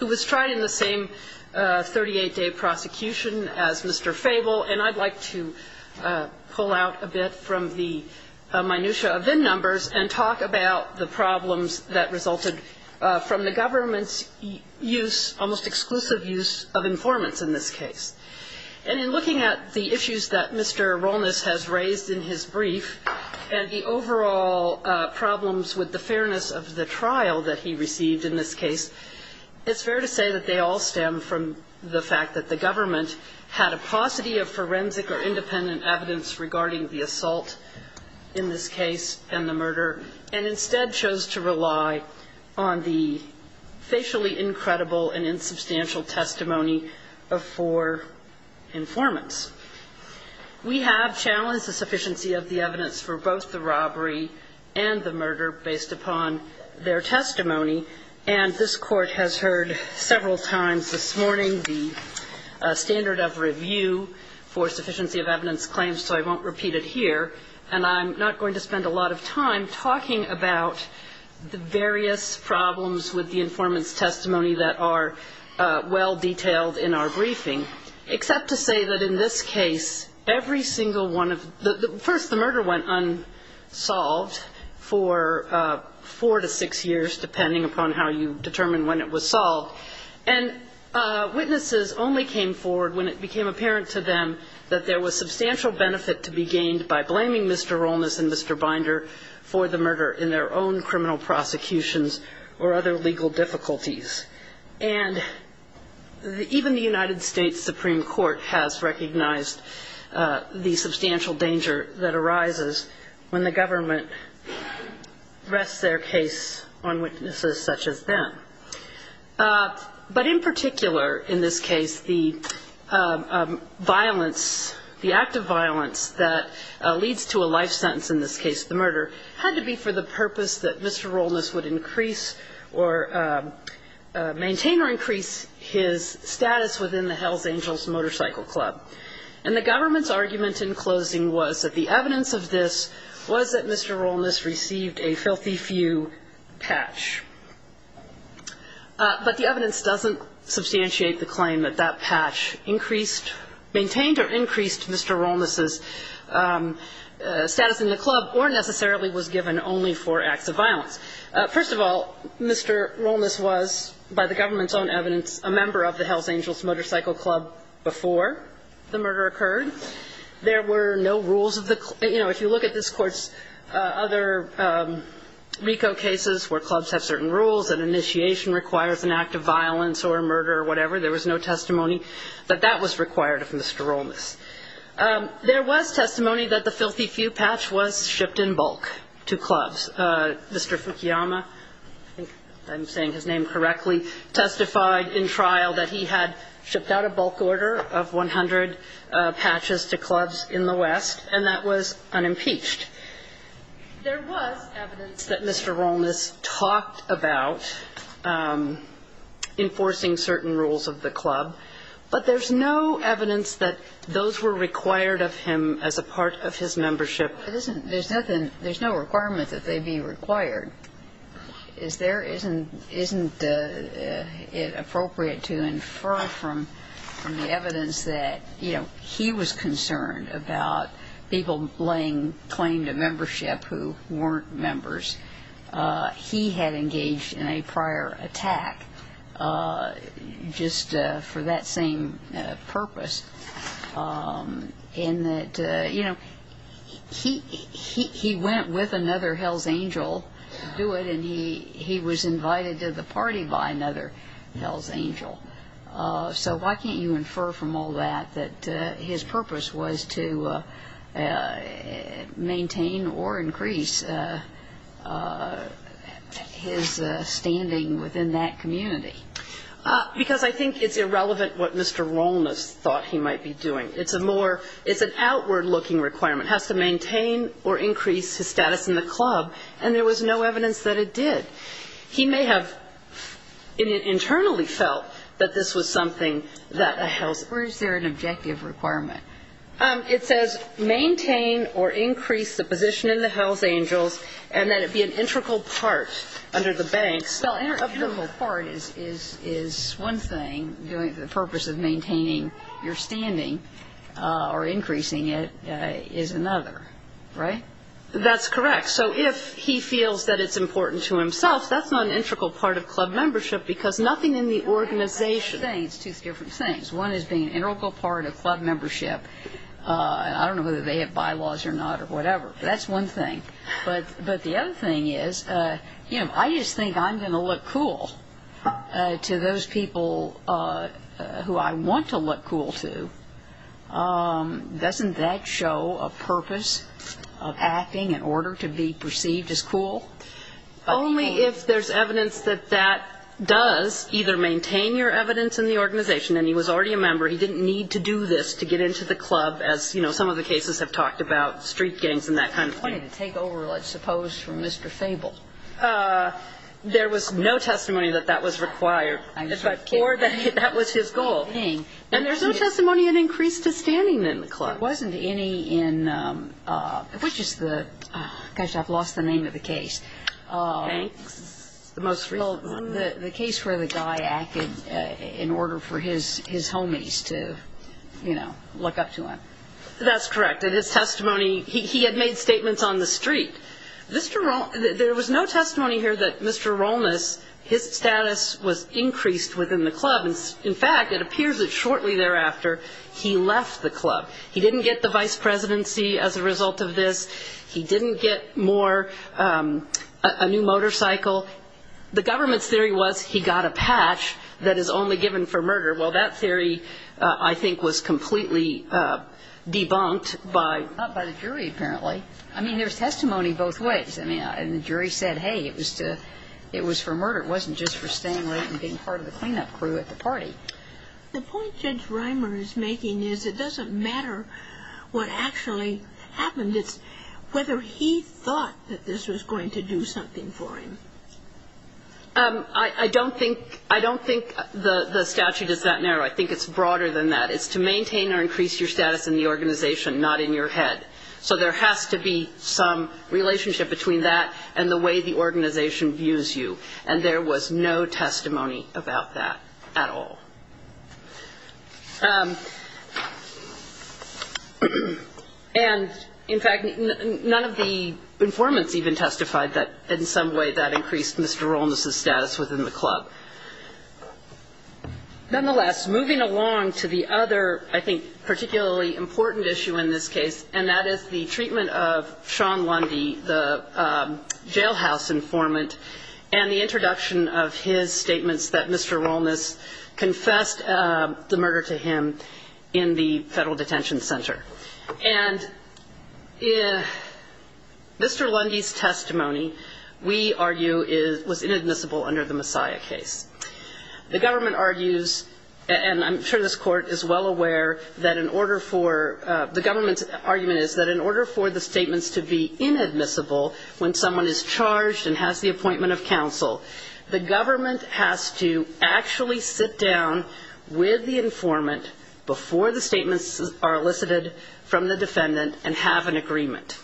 who was tried in the same 38-day prosecution as Mr. Fable, and I'd like to pull out a bit from the minutia of VIN numbers and talk about the problems that resulted from the government's use, almost exclusive use, of informants in this case. And in looking at the issues that Mr. Rollness has raised in his brief, and the overall problems with the fairness of the trial that he received in this case, it's fair to say that they all stem from the fact that the government had a paucity of forensic or independent evidence regarding the assault in this case and the murder, and instead chose to rely on the facially incredible and insubstantial testimony of four informants. We have challenged the sufficiency of the evidence for both the robbery and the murder based upon their testimony, and this Court has heard several times this morning the standard of review for sufficiency of evidence claims, so I won't repeat it here. And I'm not going to spend a lot of time talking about the various problems with the informant's testimony that are well-detailed in our briefing, except to say that in this case, every single one of the – first, the murder went unsolved for four to six years, depending upon how you determine when it was solved. And witnesses only came forward when it became apparent to them that there was substantial benefit to be gained by blaming Mr. Rollness and Mr. Binder for the murder in their own criminal prosecutions or other legal difficulties. And even the United States Supreme Court has recognized the substantial danger that arises when the government rests their case on witnesses such as them. But in particular, in this case, the violence, the act of violence that leads to a life sentence in this case, the murder, had to be for the purpose that Mr. Rollness would increase or maintain or increase his status within the Hells Angels Motorcycle Club. And the government's argument in closing was that the evidence of this was that Mr. Rollness received a filthy few patch. But the evidence doesn't substantiate the claim that that patch increased – maintained or increased Mr. Rollness's status in the club or necessarily was given only for acts of violence. First of all, Mr. Rollness was, by the government's own evidence, a member of the Hells Angels Motorcycle Club before the murder occurred. There were no rules of the – you know, if you look at this Court's other RICO cases where clubs have certain rules, an initiation requires an act of violence or murder or whatever, there was no testimony that that was required of Mr. Rollness. There was testimony that the filthy few patch was shipped in bulk to clubs. Mr. Fukuyama – I think I'm saying his name correctly – testified in trial that he had shipped out a bulk order of 100 patches to clubs in the West, and that was unimpeached. There was evidence that Mr. Rollness talked about enforcing certain rules of the club, but there's no evidence that those were required of him as a part of his membership. There's nothing – there's no requirement that they be required. There isn't – isn't it appropriate to infer from the evidence that, you know, he was concerned about people laying claim to membership who weren't members. He had engaged in a prior attack just for that same purpose in that, you know, he went with another Hells Angel to do it, and he was invited to the party by another Hells Angel. So why can't you infer from all that that his purpose was to maintain or increase his standing within that community? Because I think it's irrelevant what Mr. Rollness thought he might be doing. It's a more – it's an outward-looking requirement. It has to maintain or increase his status in the club, and there was no evidence that it did. He may have internally felt that this was something that a Hells – Or is there an objective requirement? It says maintain or increase the position in the Hells Angels and that it be an integral part under the banks. Well, integral part is one thing. The purpose of maintaining your standing or increasing it is another, right? That's correct. So if he feels that it's important to himself, that's not an integral part of club membership because nothing in the organization – I think it's two different things. One is being an integral part of club membership. I don't know whether they have bylaws or not or whatever, but that's one thing. But the other thing is I just think I'm going to look cool to those people who I want to look cool to. Doesn't that show a purpose of acting in order to be perceived as cool? Only if there's evidence that that does either maintain your evidence in the organization – and he was already a member, he didn't need to do this to get into the club, as some of the cases have talked about, street gangs and that kind of thing. He didn't need to take over, let's suppose, from Mr. Fable. There was no testimony that that was required, but that was his goal. And there's no testimony in increase to standing in the club. There wasn't any in – which is the – gosh, I've lost the name of the case. Banks? The case where the guy acted in order for his homies to, you know, look up to him. That's correct. That his testimony – he had made statements on the street. There was no testimony here that Mr. Rolness, his status was increased within the club. In fact, it appears that shortly thereafter he left the club. He didn't get the vice presidency as a result of this. He didn't get more – a new motorcycle. The government's theory was he got a patch that is only given for murder. Well, that theory, I think, was completely debunked by – Not by the jury, apparently. I mean, there's testimony both ways. I mean, the jury said, hey, it was for murder. It wasn't just for staying late and being part of the cleanup crew at the party. The point Judge Reimer is making is it doesn't matter what actually happened. It's whether he thought that this was going to do something for him. I don't think the statute is that narrow. I think it's broader than that. It's to maintain or increase your status in the organization, not in your head. So there has to be some relationship between that and the way the organization views you. And there was no testimony about that at all. And, in fact, none of the informants even testified that in some way that increased Mr. Rolnes' status within the club. Nonetheless, moving along to the other, I think, particularly important issue in this case, and that is the treatment of Sean Lundy, the jailhouse informant, and the introduction of his statements that Mr. Rolnes confessed the murder to him in the federal detention center. And Mr. Lundy's testimony, we argue, was inadmissible under the Messiah case. The government argues, and I'm sure this Court is well aware that in order for the government's argument is that in order for the statements to be inadmissible when someone is charged and has the appointment of counsel, the government has to actually sit down with the informant before the statements are elicited from the defendant and have an agreement.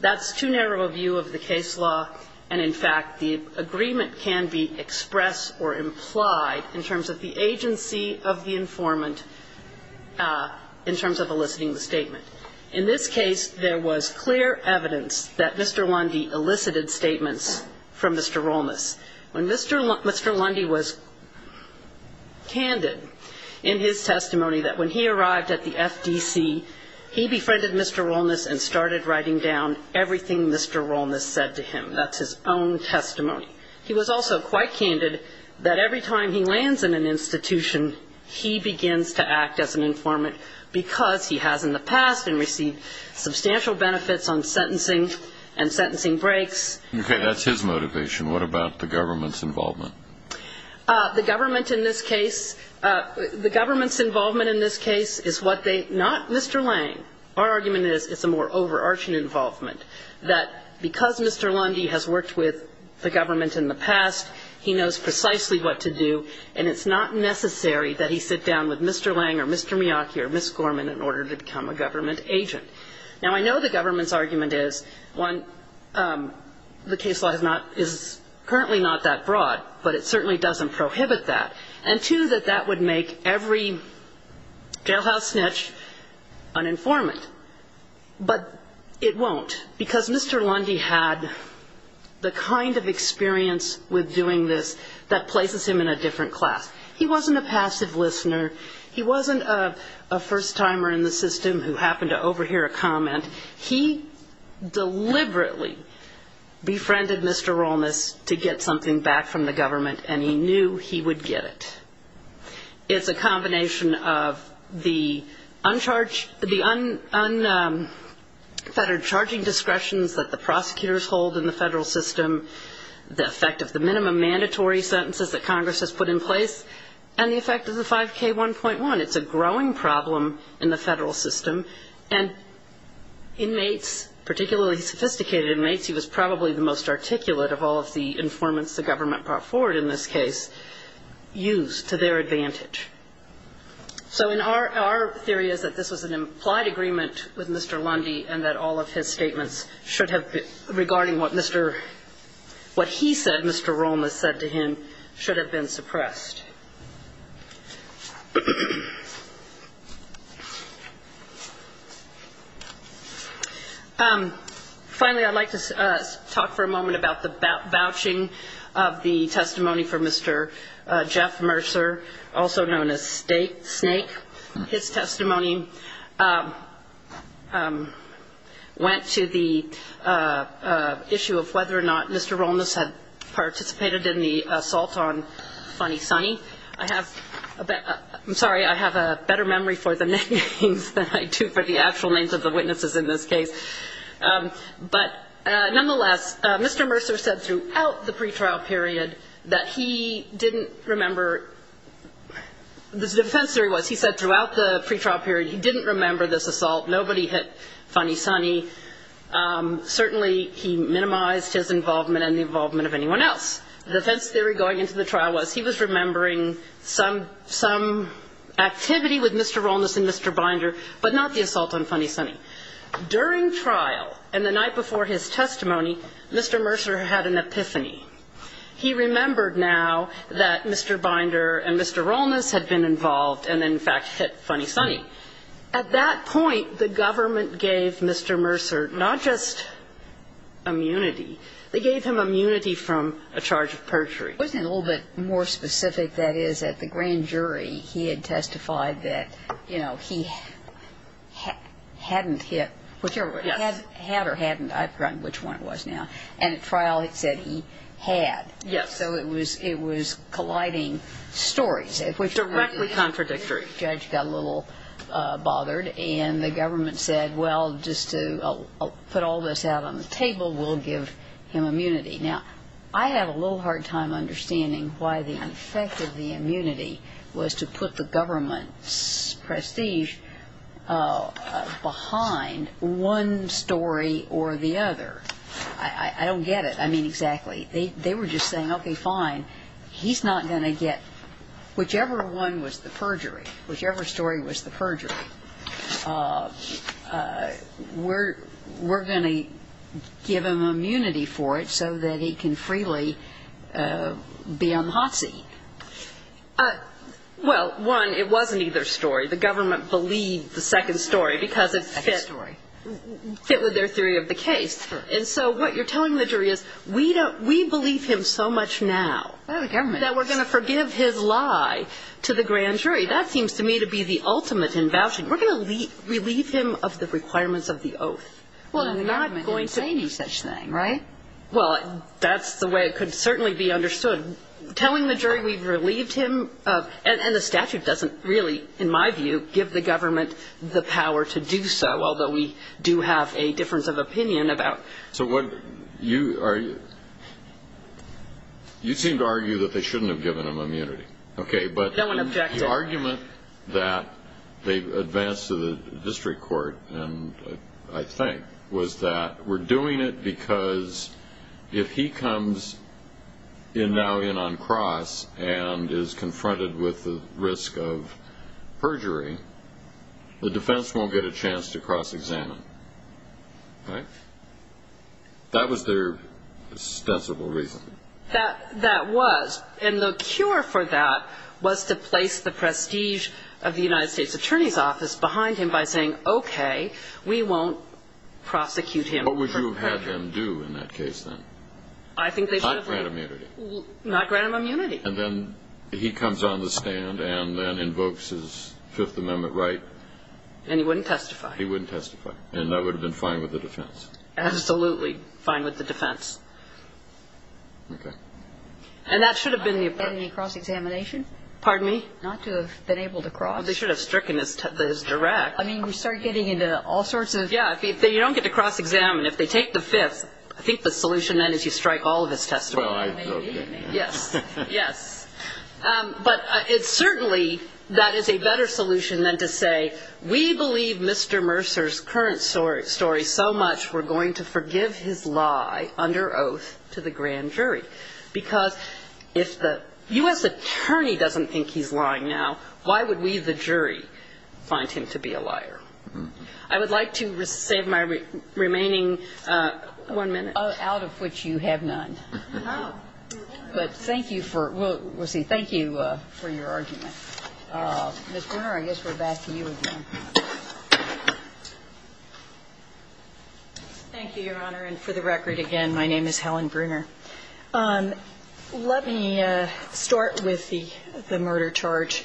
That's too narrow a view of the case law, and, in fact, the agreement can be expressed or implied in terms of the agency of the informant in terms of eliciting the statement. In this case, there was clear evidence that Mr. Lundy elicited statements from Mr. Rolnes. Mr. Lundy was candid in his testimony that when he arrived at the FDC, he befriended Mr. Rolnes and started writing down everything Mr. Rolnes said to him. That's his own testimony. He was also quite candid that every time he lands in an institution, he begins to act as an informant because he has in the past and received substantial benefits on sentencing and sentencing breaks. Okay. That's his motivation. What about the government's involvement? The government in this case, the government's involvement in this case is what they, not Mr. Lange. Our argument is it's a more overarching involvement, that because Mr. Lundy has worked with the government in the past, he knows precisely what to do, and it's not necessary that he sit down with Mr. Lange or Mr. Miyake or Ms. Gorman in order to become a government agent. Now, I know the government's argument is, one, the case law is currently not that broad, but it certainly doesn't prohibit that, and, two, that that would make every jailhouse snitch an informant. But it won't because Mr. Lundy had the kind of experience with doing this that places him in a different class. He wasn't a passive listener. He wasn't a first-timer in the system who happened to overhear a comment. He deliberately befriended Mr. Rolness to get something back from the government, and he knew he would get it. It's a combination of the unfettered charging discretions that the prosecutors hold in the federal system, the effect of the minimum mandatory sentences that Congress has put in place, and the effect of the 5K1.1. It's a growing problem in the federal system, and inmates, particularly sophisticated inmates, he was probably the most articulate of all of the informants the government brought forward in this case used to their advantage. So our theory is that this was an implied agreement with Mr. Lundy and that all of his statements regarding what he said Mr. Rolness said to him should have been suppressed. Finally, I'd like to talk for a moment about the vouching of the testimony for Mr. Jeff Mercer, also known as Snake. His testimony went to the issue of whether or not Mr. Rolness had participated in the assault on Funny Sonny. I'm sorry, I have a better memory for the names than I do for the actual names of the witnesses in this case. But nonetheless, Mr. Mercer said throughout the pretrial period that he didn't remember, the defense theory was he said throughout the pretrial period he didn't remember this assault. Nobody hit Funny Sonny. Certainly he minimized his involvement and the involvement of anyone else. The defense theory going into the trial was he was remembering some activity with Mr. Rolness and Mr. Binder, but not the assault on Funny Sonny. During trial and the night before his testimony, Mr. Mercer had an epiphany. He remembered now that Mr. Binder and Mr. Rolness had been involved and in fact hit Funny Sonny. At that point, the government gave Mr. Mercer not just immunity, they gave him immunity from a charge of perjury. Wasn't it a little bit more specific, that is, that the grand jury, he had testified that, you know, he hadn't hit, had or hadn't, I've forgotten which one it was now, and at trial it said he had. Yes. So it was colliding stories. Directly contradictory. The judge got a little bothered and the government said, well, just to put all this out on the table, we'll give him immunity. Now, I had a little hard time understanding why the effect of the immunity was to put the government's prestige behind one story or the other. I don't get it. I mean, exactly. They were just saying, okay, fine, he's not going to get, whichever one was the perjury, whichever story was the perjury, we're going to give him immunity for it so that he can freely be on the hot seat. Well, one, it wasn't either story. The government believed the second story because it fit with their theory of the case. And so what you're telling the jury is, we believe him so much now that we're going to forgive his lie to the grand jury. That seems to me to be the ultimate in vouching. We're going to relieve him of the requirements of the oath. Well, the government didn't say any such thing, right? Well, that's the way it could certainly be understood. Telling the jury we've relieved him of, and the statute doesn't really, in my view, give the government the power to do so, although we do have a difference of opinion about it. So you seem to argue that they shouldn't have given him immunity. Okay, but the argument that they've advanced to the district court, I think, was that we're doing it because if he comes in now in on cross and is confronted with the risk of perjury, the defense won't get a chance to cross-examine, right? That was their ostensible reason. That was. And the cure for that was to place the prestige of the United States Attorney's Office behind him by saying, okay, we won't prosecute him for perjury. What would you have had them do in that case, then? Not grant him immunity. Not grant him immunity. And then he comes on the stand and then invokes his Fifth Amendment right. And he wouldn't testify. He wouldn't testify. And that would have been fine with the defense. Absolutely fine with the defense. Okay. And that should have been the approach. And the cross-examination. Pardon me? Not to have been able to cross. Well, they should have stricken his direct. I mean, we start getting into all sorts of... Yeah, you don't get to cross-examine. If they take the Fifth, I think the solution then is you strike all of his testimony. Yes. Yes. But certainly that is a better solution than to say, we believe Mr. Mercer's current story so much we're going to forgive his lie under oath to the grand jury. Because if the U.S. Attorney doesn't think he's lying now, why would we, the jury, find him to be a liar? I would like to save my remaining one minute. Out of which you have none. Oh. But thank you for... We'll see. Thank you for your argument. Ms. Bruner, I guess we're back to you again. Thank you, Your Honor. And for the record, again, my name is Helen Bruner. Let me start with the murder charge,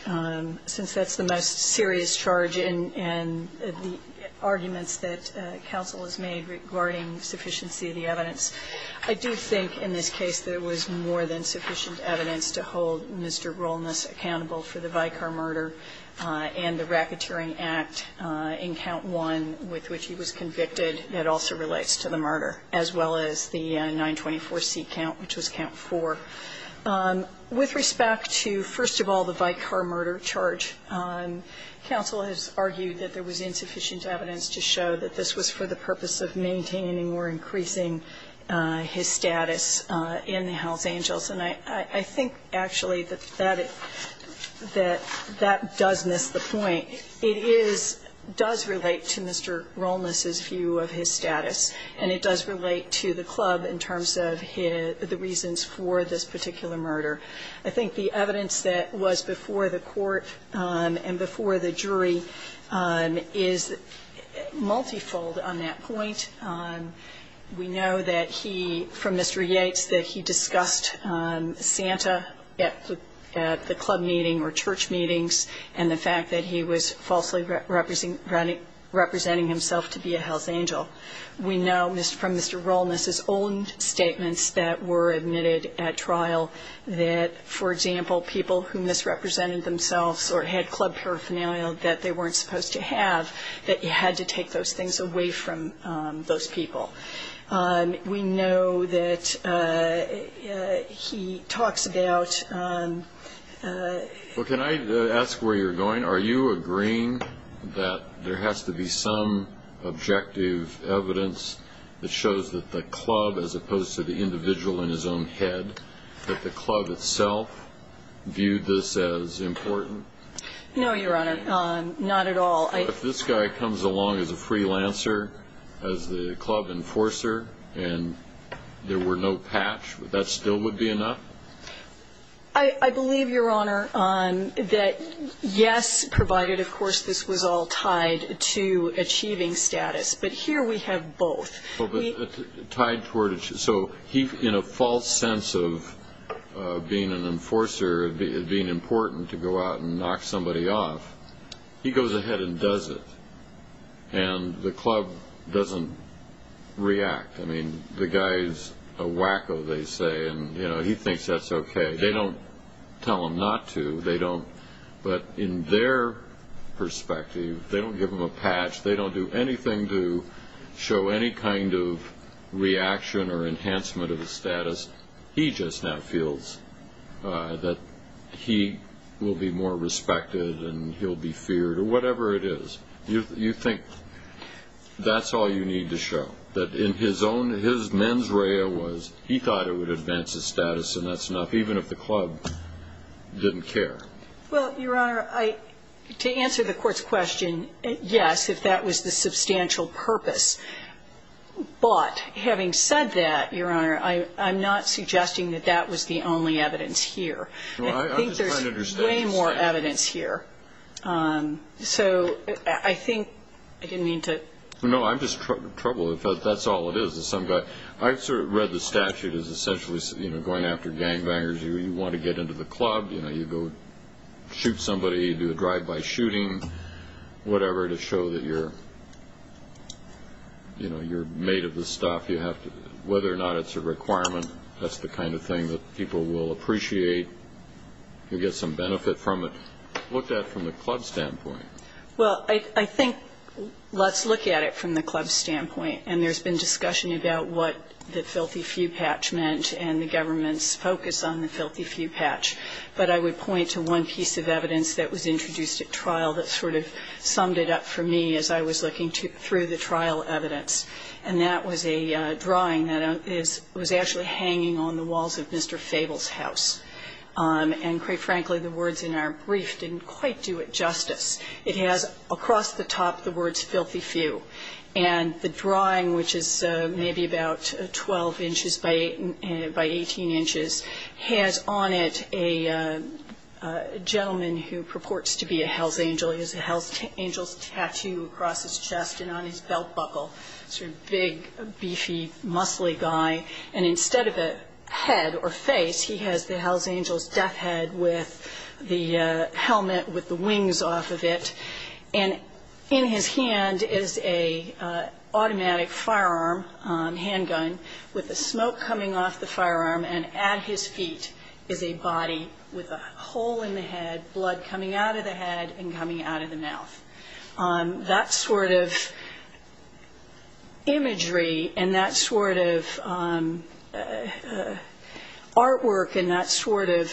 since that's the most serious charge and the arguments that counsel has made regarding sufficiency of the evidence. I do think in this case there was more than sufficient evidence to hold Mr. Rolness accountable for the Vicar murder and the racketeering act in count one with which he was convicted that also relates to the murder, as well as the 924C count, which was count four. With respect to, first of all, the Vicar murder charge, counsel has argued that there was insufficient evidence to show that this was for the purpose of maintaining or increasing his status in the Hells Angels. And I think, actually, that that does miss the point. It does relate to Mr. Rolness's view of his status, and it does relate to the club in terms of the reasons for this particular murder. I think the evidence that was before the court and before the jury is multifold on that point. We know that he, from Mr. Yates, that he discussed Santa at the club meeting or church meetings and the fact that he was falsely representing himself to be a Hells Angel. We know from Mr. Rolness's own statements that were admitted at trial that he was aware that, for example, people who misrepresented themselves or had club paraphernalia that they weren't supposed to have, that you had to take those things away from those people. We know that he talks about ---- Well, can I ask where you're going? Are you agreeing that there has to be some objective evidence that shows that the club itself viewed this as important? No, Your Honor, not at all. If this guy comes along as a freelancer, as the club enforcer, and there were no patch, that still would be enough? I believe, Your Honor, that yes, provided, of course, this was all tied to achieving status. But here we have both. So he, in a false sense of being an enforcer, being important to go out and knock somebody off, he goes ahead and does it. And the club doesn't react. I mean, the guy's a wacko, they say, and he thinks that's okay. They don't tell him not to. But in their perspective, they don't give him a patch. They don't do anything to show any kind of reaction or enhancement of his status. He just now feels that he will be more respected and he'll be feared or whatever it is. You think that's all you need to show, that in his own, his mens rea was he thought it would advance his status and that's enough, even if the club didn't care? Well, Your Honor, to answer the court's question, yes, if that was the substantial purpose. But having said that, Your Honor, I'm not suggesting that that was the only evidence here. I think there's way more evidence here. So I think I didn't mean to. No, I'm just troubled that that's all it is. I've sort of read the statute as essentially going after gangbangers. You want to get into the club. You go shoot somebody. You do a drive-by shooting, whatever, to show that you're made of the stuff. Whether or not it's a requirement, that's the kind of thing that people will appreciate. You get some benefit from it. Look at it from the club's standpoint. Well, I think let's look at it from the club's standpoint. And there's been discussion about what the filthy few patch meant and the government's focus on the filthy few patch. But I would point to one piece of evidence that was introduced at trial that sort of summed it up for me as I was looking through the trial evidence. And that was a drawing that was actually hanging on the walls of Mr. Fable's house. And quite frankly, the words in our brief didn't quite do it justice. It has across the top the words filthy few. And the drawing, which is maybe about 12 inches by 18 inches, has on it a gentleman who purports to be a hell's angel. He has a hell's angel's tattoo across his chest and on his belt buckle. Sort of big, beefy, muscly guy. And instead of a head or face, he has the hell's angel's death head with the helmet with the wings off of it. And in his hand is an automatic firearm, handgun, with the smoke coming off the firearm. And at his feet is a body with a hole in the head, blood coming out of the head and coming out of the mouth. That sort of imagery and that sort of artwork and that sort of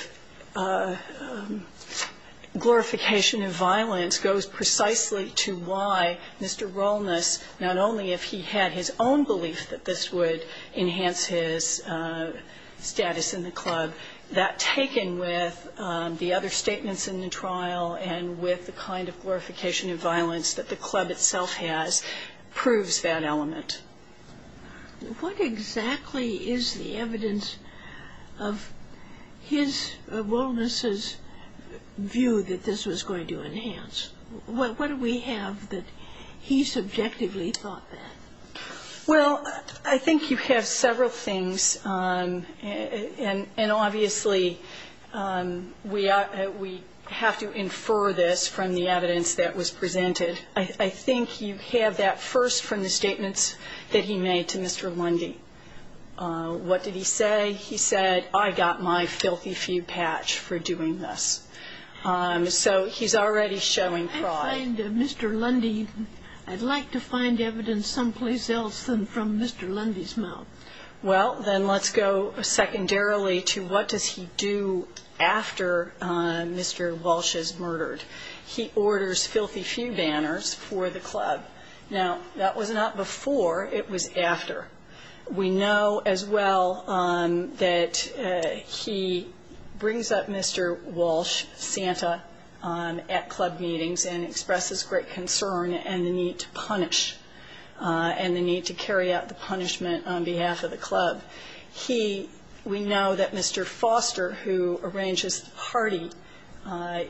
glorification of violence was precisely to why Mr. Rolness, not only if he had his own belief that this would enhance his status in the club, that taken with the other statements in the trial and with the kind of glorification of violence that the club itself has proves that element. What exactly is the evidence of his, Rolness's view that this was going to enhance? What do we have that he subjectively thought that? Well, I think you have several things. And obviously we have to infer this from the evidence that was presented. I think you have that first from the statements that he made to Mr. Lundy. What did he say? He said, I got my filthy few patch for doing this. So he's already showing pride. I find Mr. Lundy, I'd like to find evidence someplace else than from Mr. Lundy's mouth. Well, then let's go secondarily to what does he do after Mr. Walsh is murdered. He orders filthy few banners for the club. Now, that was not before, it was after. We know as well that he brings up Mr. Walsh, Santa, at club meetings and expresses great concern and the need to punish and the need to carry out the punishment on behalf of the club. We know that Mr. Foster, who arranges the party,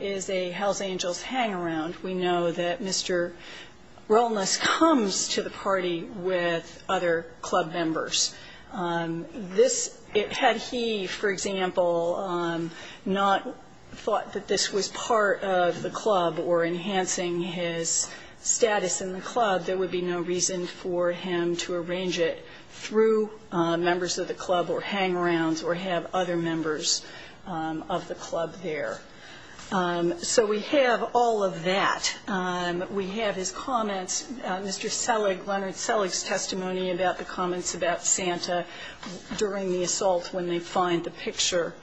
is a Hells Angels hang around. We know that Mr. Wellness comes to the party with other club members. Had he, for example, not thought that this was part of the club or enhancing his status in the club, there would be no reason for him to arrange it through members of the club or hang arounds or have other members of the club there. So we have all of that. We have his comments, Mr. Selig, Leonard Selig's testimony about the comments about Santa during the assault when they find the picture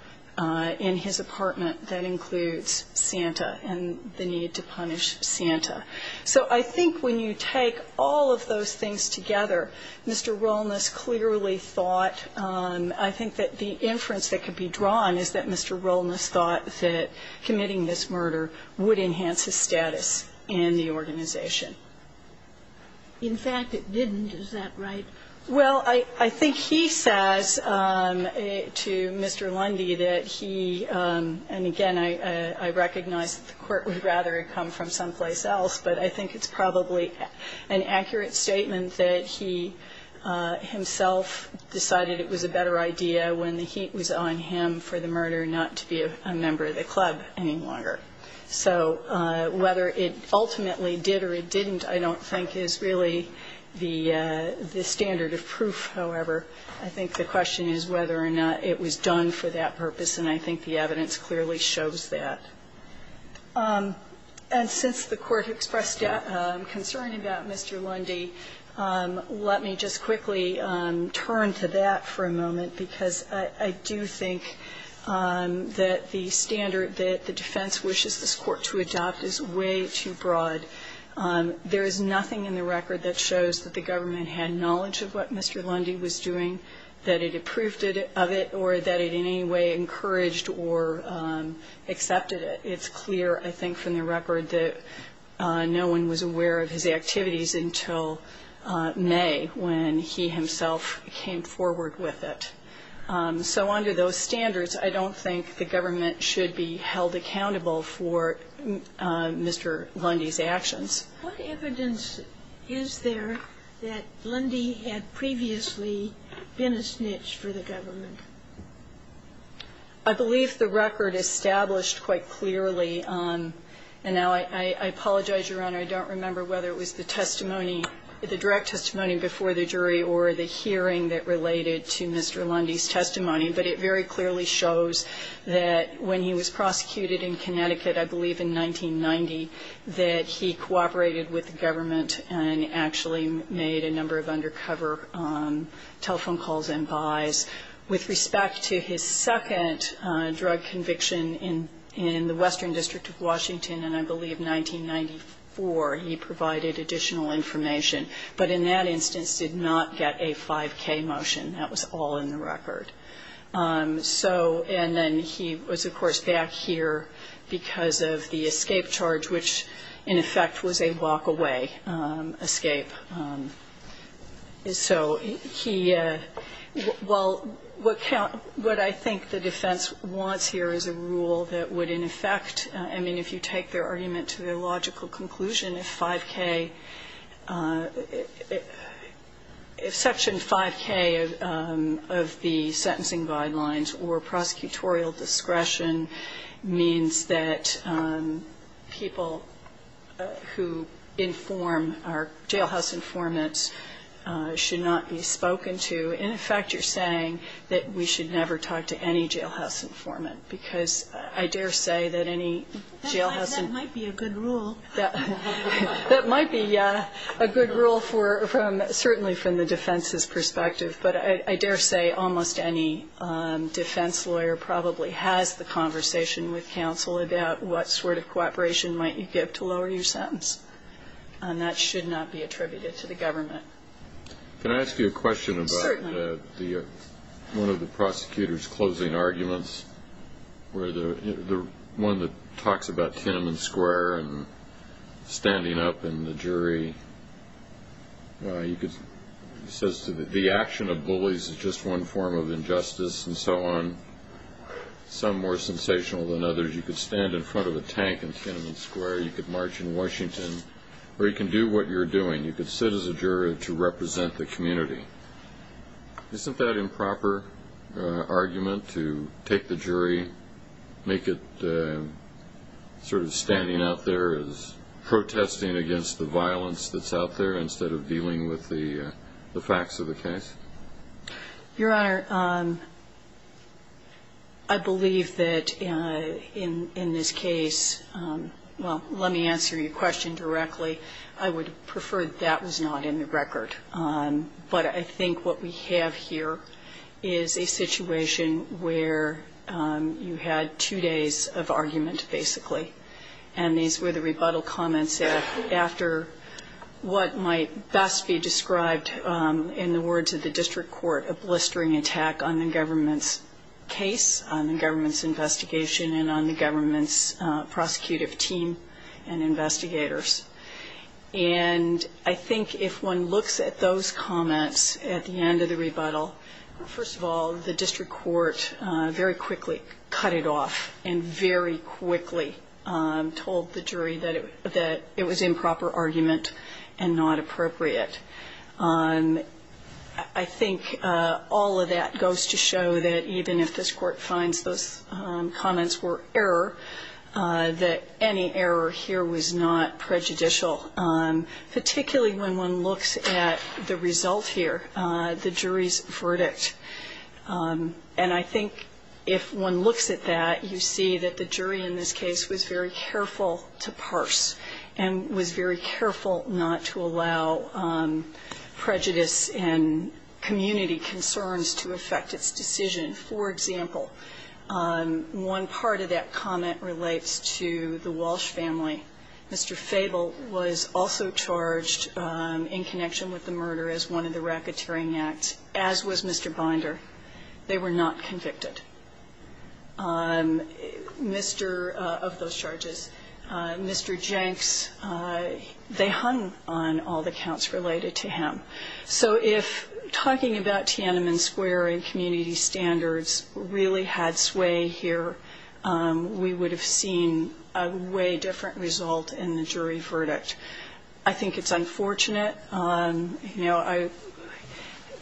in his apartment that includes Santa and the need to punish Santa. So I think when you take all of those things together, Mr. Wellness clearly thought, I think that the inference that could be drawn is that Mr. Wellness thought that committing this murder would enhance his status in the organization. In fact, it didn't. Is that right? Well, I think he says to Mr. Lundy that he, and again, I recognize that the Court would rather it come from someplace else, but I think it's probably an accurate statement that he himself decided it was a better idea when the heat was on him for the murder not to be a member of the club any longer. So whether it ultimately did or it didn't, I don't think is really the standard of proof, however. I think the question is whether or not it was done for that purpose, and I think the evidence clearly shows that. And since the Court expressed concern about Mr. Lundy, let me just quickly turn to that for a moment, because I do think that the standard that the defense wishes this Court to adopt is way too broad. There is nothing in the record that shows that the government had knowledge of what Mr. Lundy was doing, that it approved of it or that it in any way encouraged or accepted it. It's clear, I think, from the record that no one was aware of his activities until May when he himself came forward with it. So under those standards, I don't think the government should be held accountable for Mr. Lundy's actions. What evidence is there that Lundy had previously been a snitch for the government? I believe the record established quite clearly, and now I apologize, Your Honor, I don't remember whether it was the testimony, the direct testimony before the jury or the hearing that related to Mr. Lundy's testimony, but it very clearly shows that when he was prosecuted in Connecticut, I believe in 1990, that he cooperated with the government and actually made a number of undercover telephone calls and buys. With respect to his second drug conviction in the Western District of Washington in, I believe, 1994, he provided additional information, but in that instance did not get a 5K motion. That was all in the record. So, and then he was, of course, back here because of the escape charge, which in effect was a walk-away escape. So he, well, what I think the defense wants here is a rule that would in effect, I mean, if you take their argument to their logical conclusion, if 5K, if Section 5K of the sentencing guidelines or prosecutorial discretion means that people who inform our jailhouse informants should not be spoken to, in effect you're saying that we should never talk to any jailhouse informant because I dare say that any jailhouse informant. That might be a good rule. That might be a good rule certainly from the defense's perspective, but I dare say almost any defense lawyer probably has the conversation with counsel about what sort of cooperation might you give to lower your sentence, and that should not be attributed to the government. Can I ask you a question about one of the prosecutor's closing arguments where the one that talks about Tiananmen Square and standing up in the jury, he says the action of bullies is just one form of injustice and so on, some more sensational than others. You could stand in front of a tank in Tiananmen Square. You could march in Washington, or you can do what you're doing. You could sit as a juror to represent the community. Isn't that improper argument to take the jury, make it sort of standing out there as protesting against the violence that's out there instead of dealing with the facts of the case? Your Honor, I believe that in this case, well, let me answer your question directly. I would prefer that was not in the record. But I think what we have here is a situation where you had two days of argument, basically, and these were the rebuttal comments after what might best be described in the words of the district court, a blistering attack on the government's case, on the government's investigation, and on the government's prosecutive team and investigators. And I think if one looks at those comments at the end of the rebuttal, first of all, the district court very quickly cut it off and very quickly told the jury that it was improper argument and not appropriate. I think all of that goes to show that even if this court finds those comments were error, that any error here was not prejudicial, particularly when one looks at the result here, the jury's verdict. And I think if one looks at that, you see that the jury in this case was very careful to parse and was very careful not to allow prejudice and community concerns to affect its decision. For example, one part of that comment relates to the Walsh family. Mr. Fable was also charged in connection with the murder as one of the racketeering acts, as was Mr. Binder. They were not convicted of those charges. Mr. Jenks, they hung on all the counts related to him. So if talking about Tiananmen Square and community standards really had sway here, we would have seen a way different result in the jury verdict. I think it's unfortunate. You know,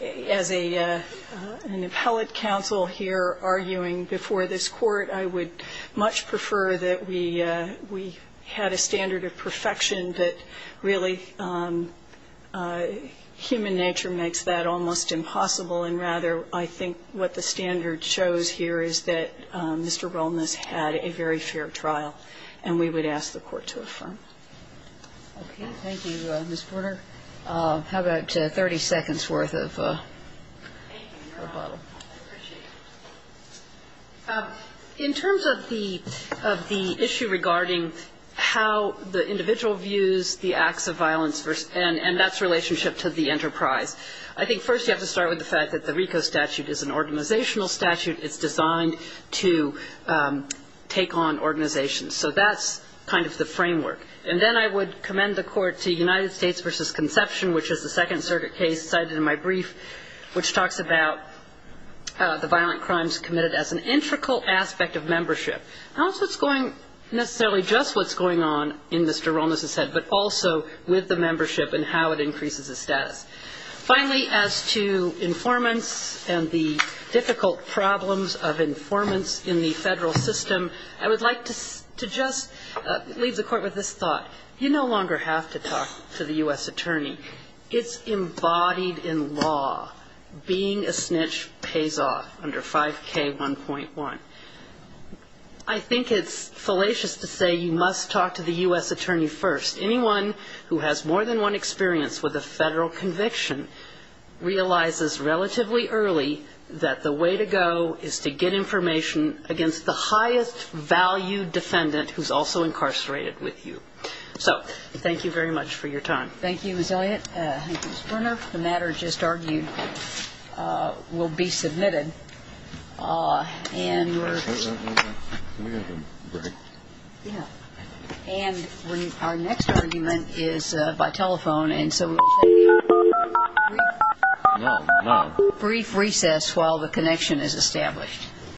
as an appellate counsel here arguing before this court, I would much prefer that we had a standard of perfection that really human nature makes that almost impossible. And rather, I think what the standard shows here is that Mr. Rolness had a very fair trial, and we would ask the Court to affirm. Okay. Thank you, Ms. Porter. How about 30 seconds' worth of rebuttal? Thank you, Your Honor. I appreciate it. In terms of the issue regarding how the individual views the acts of violence, and that's relationship to the enterprise, I think first you have to start with the fact that the RICO statute is an organizational statute. It's designed to take on organizations. So that's kind of the framework. And then I would commend the Court to United States v. Conception, which is the Second Circuit case cited in my brief, which talks about the violent crimes committed as an integral aspect of membership. Not necessarily just what's going on in Mr. Rolness's head, but also with the membership and how it increases his status. Finally, as to informants and the difficult problems of informants in the federal system, I would like to just leave the Court with this thought. You no longer have to talk to the U.S. attorney. It's embodied in law. Being a snitch pays off under 5K1.1. I think it's fallacious to say you must talk to the U.S. attorney first. Anyone who has more than one experience with a federal conviction realizes relatively early that the way to go is to get information against the highest valued defendant who's also incarcerated with you. So thank you very much for your time. Thank you, Ms. Elliott. Thank you, Ms. Brunner. The matter just argued will be submitted. And our next argument is by telephone.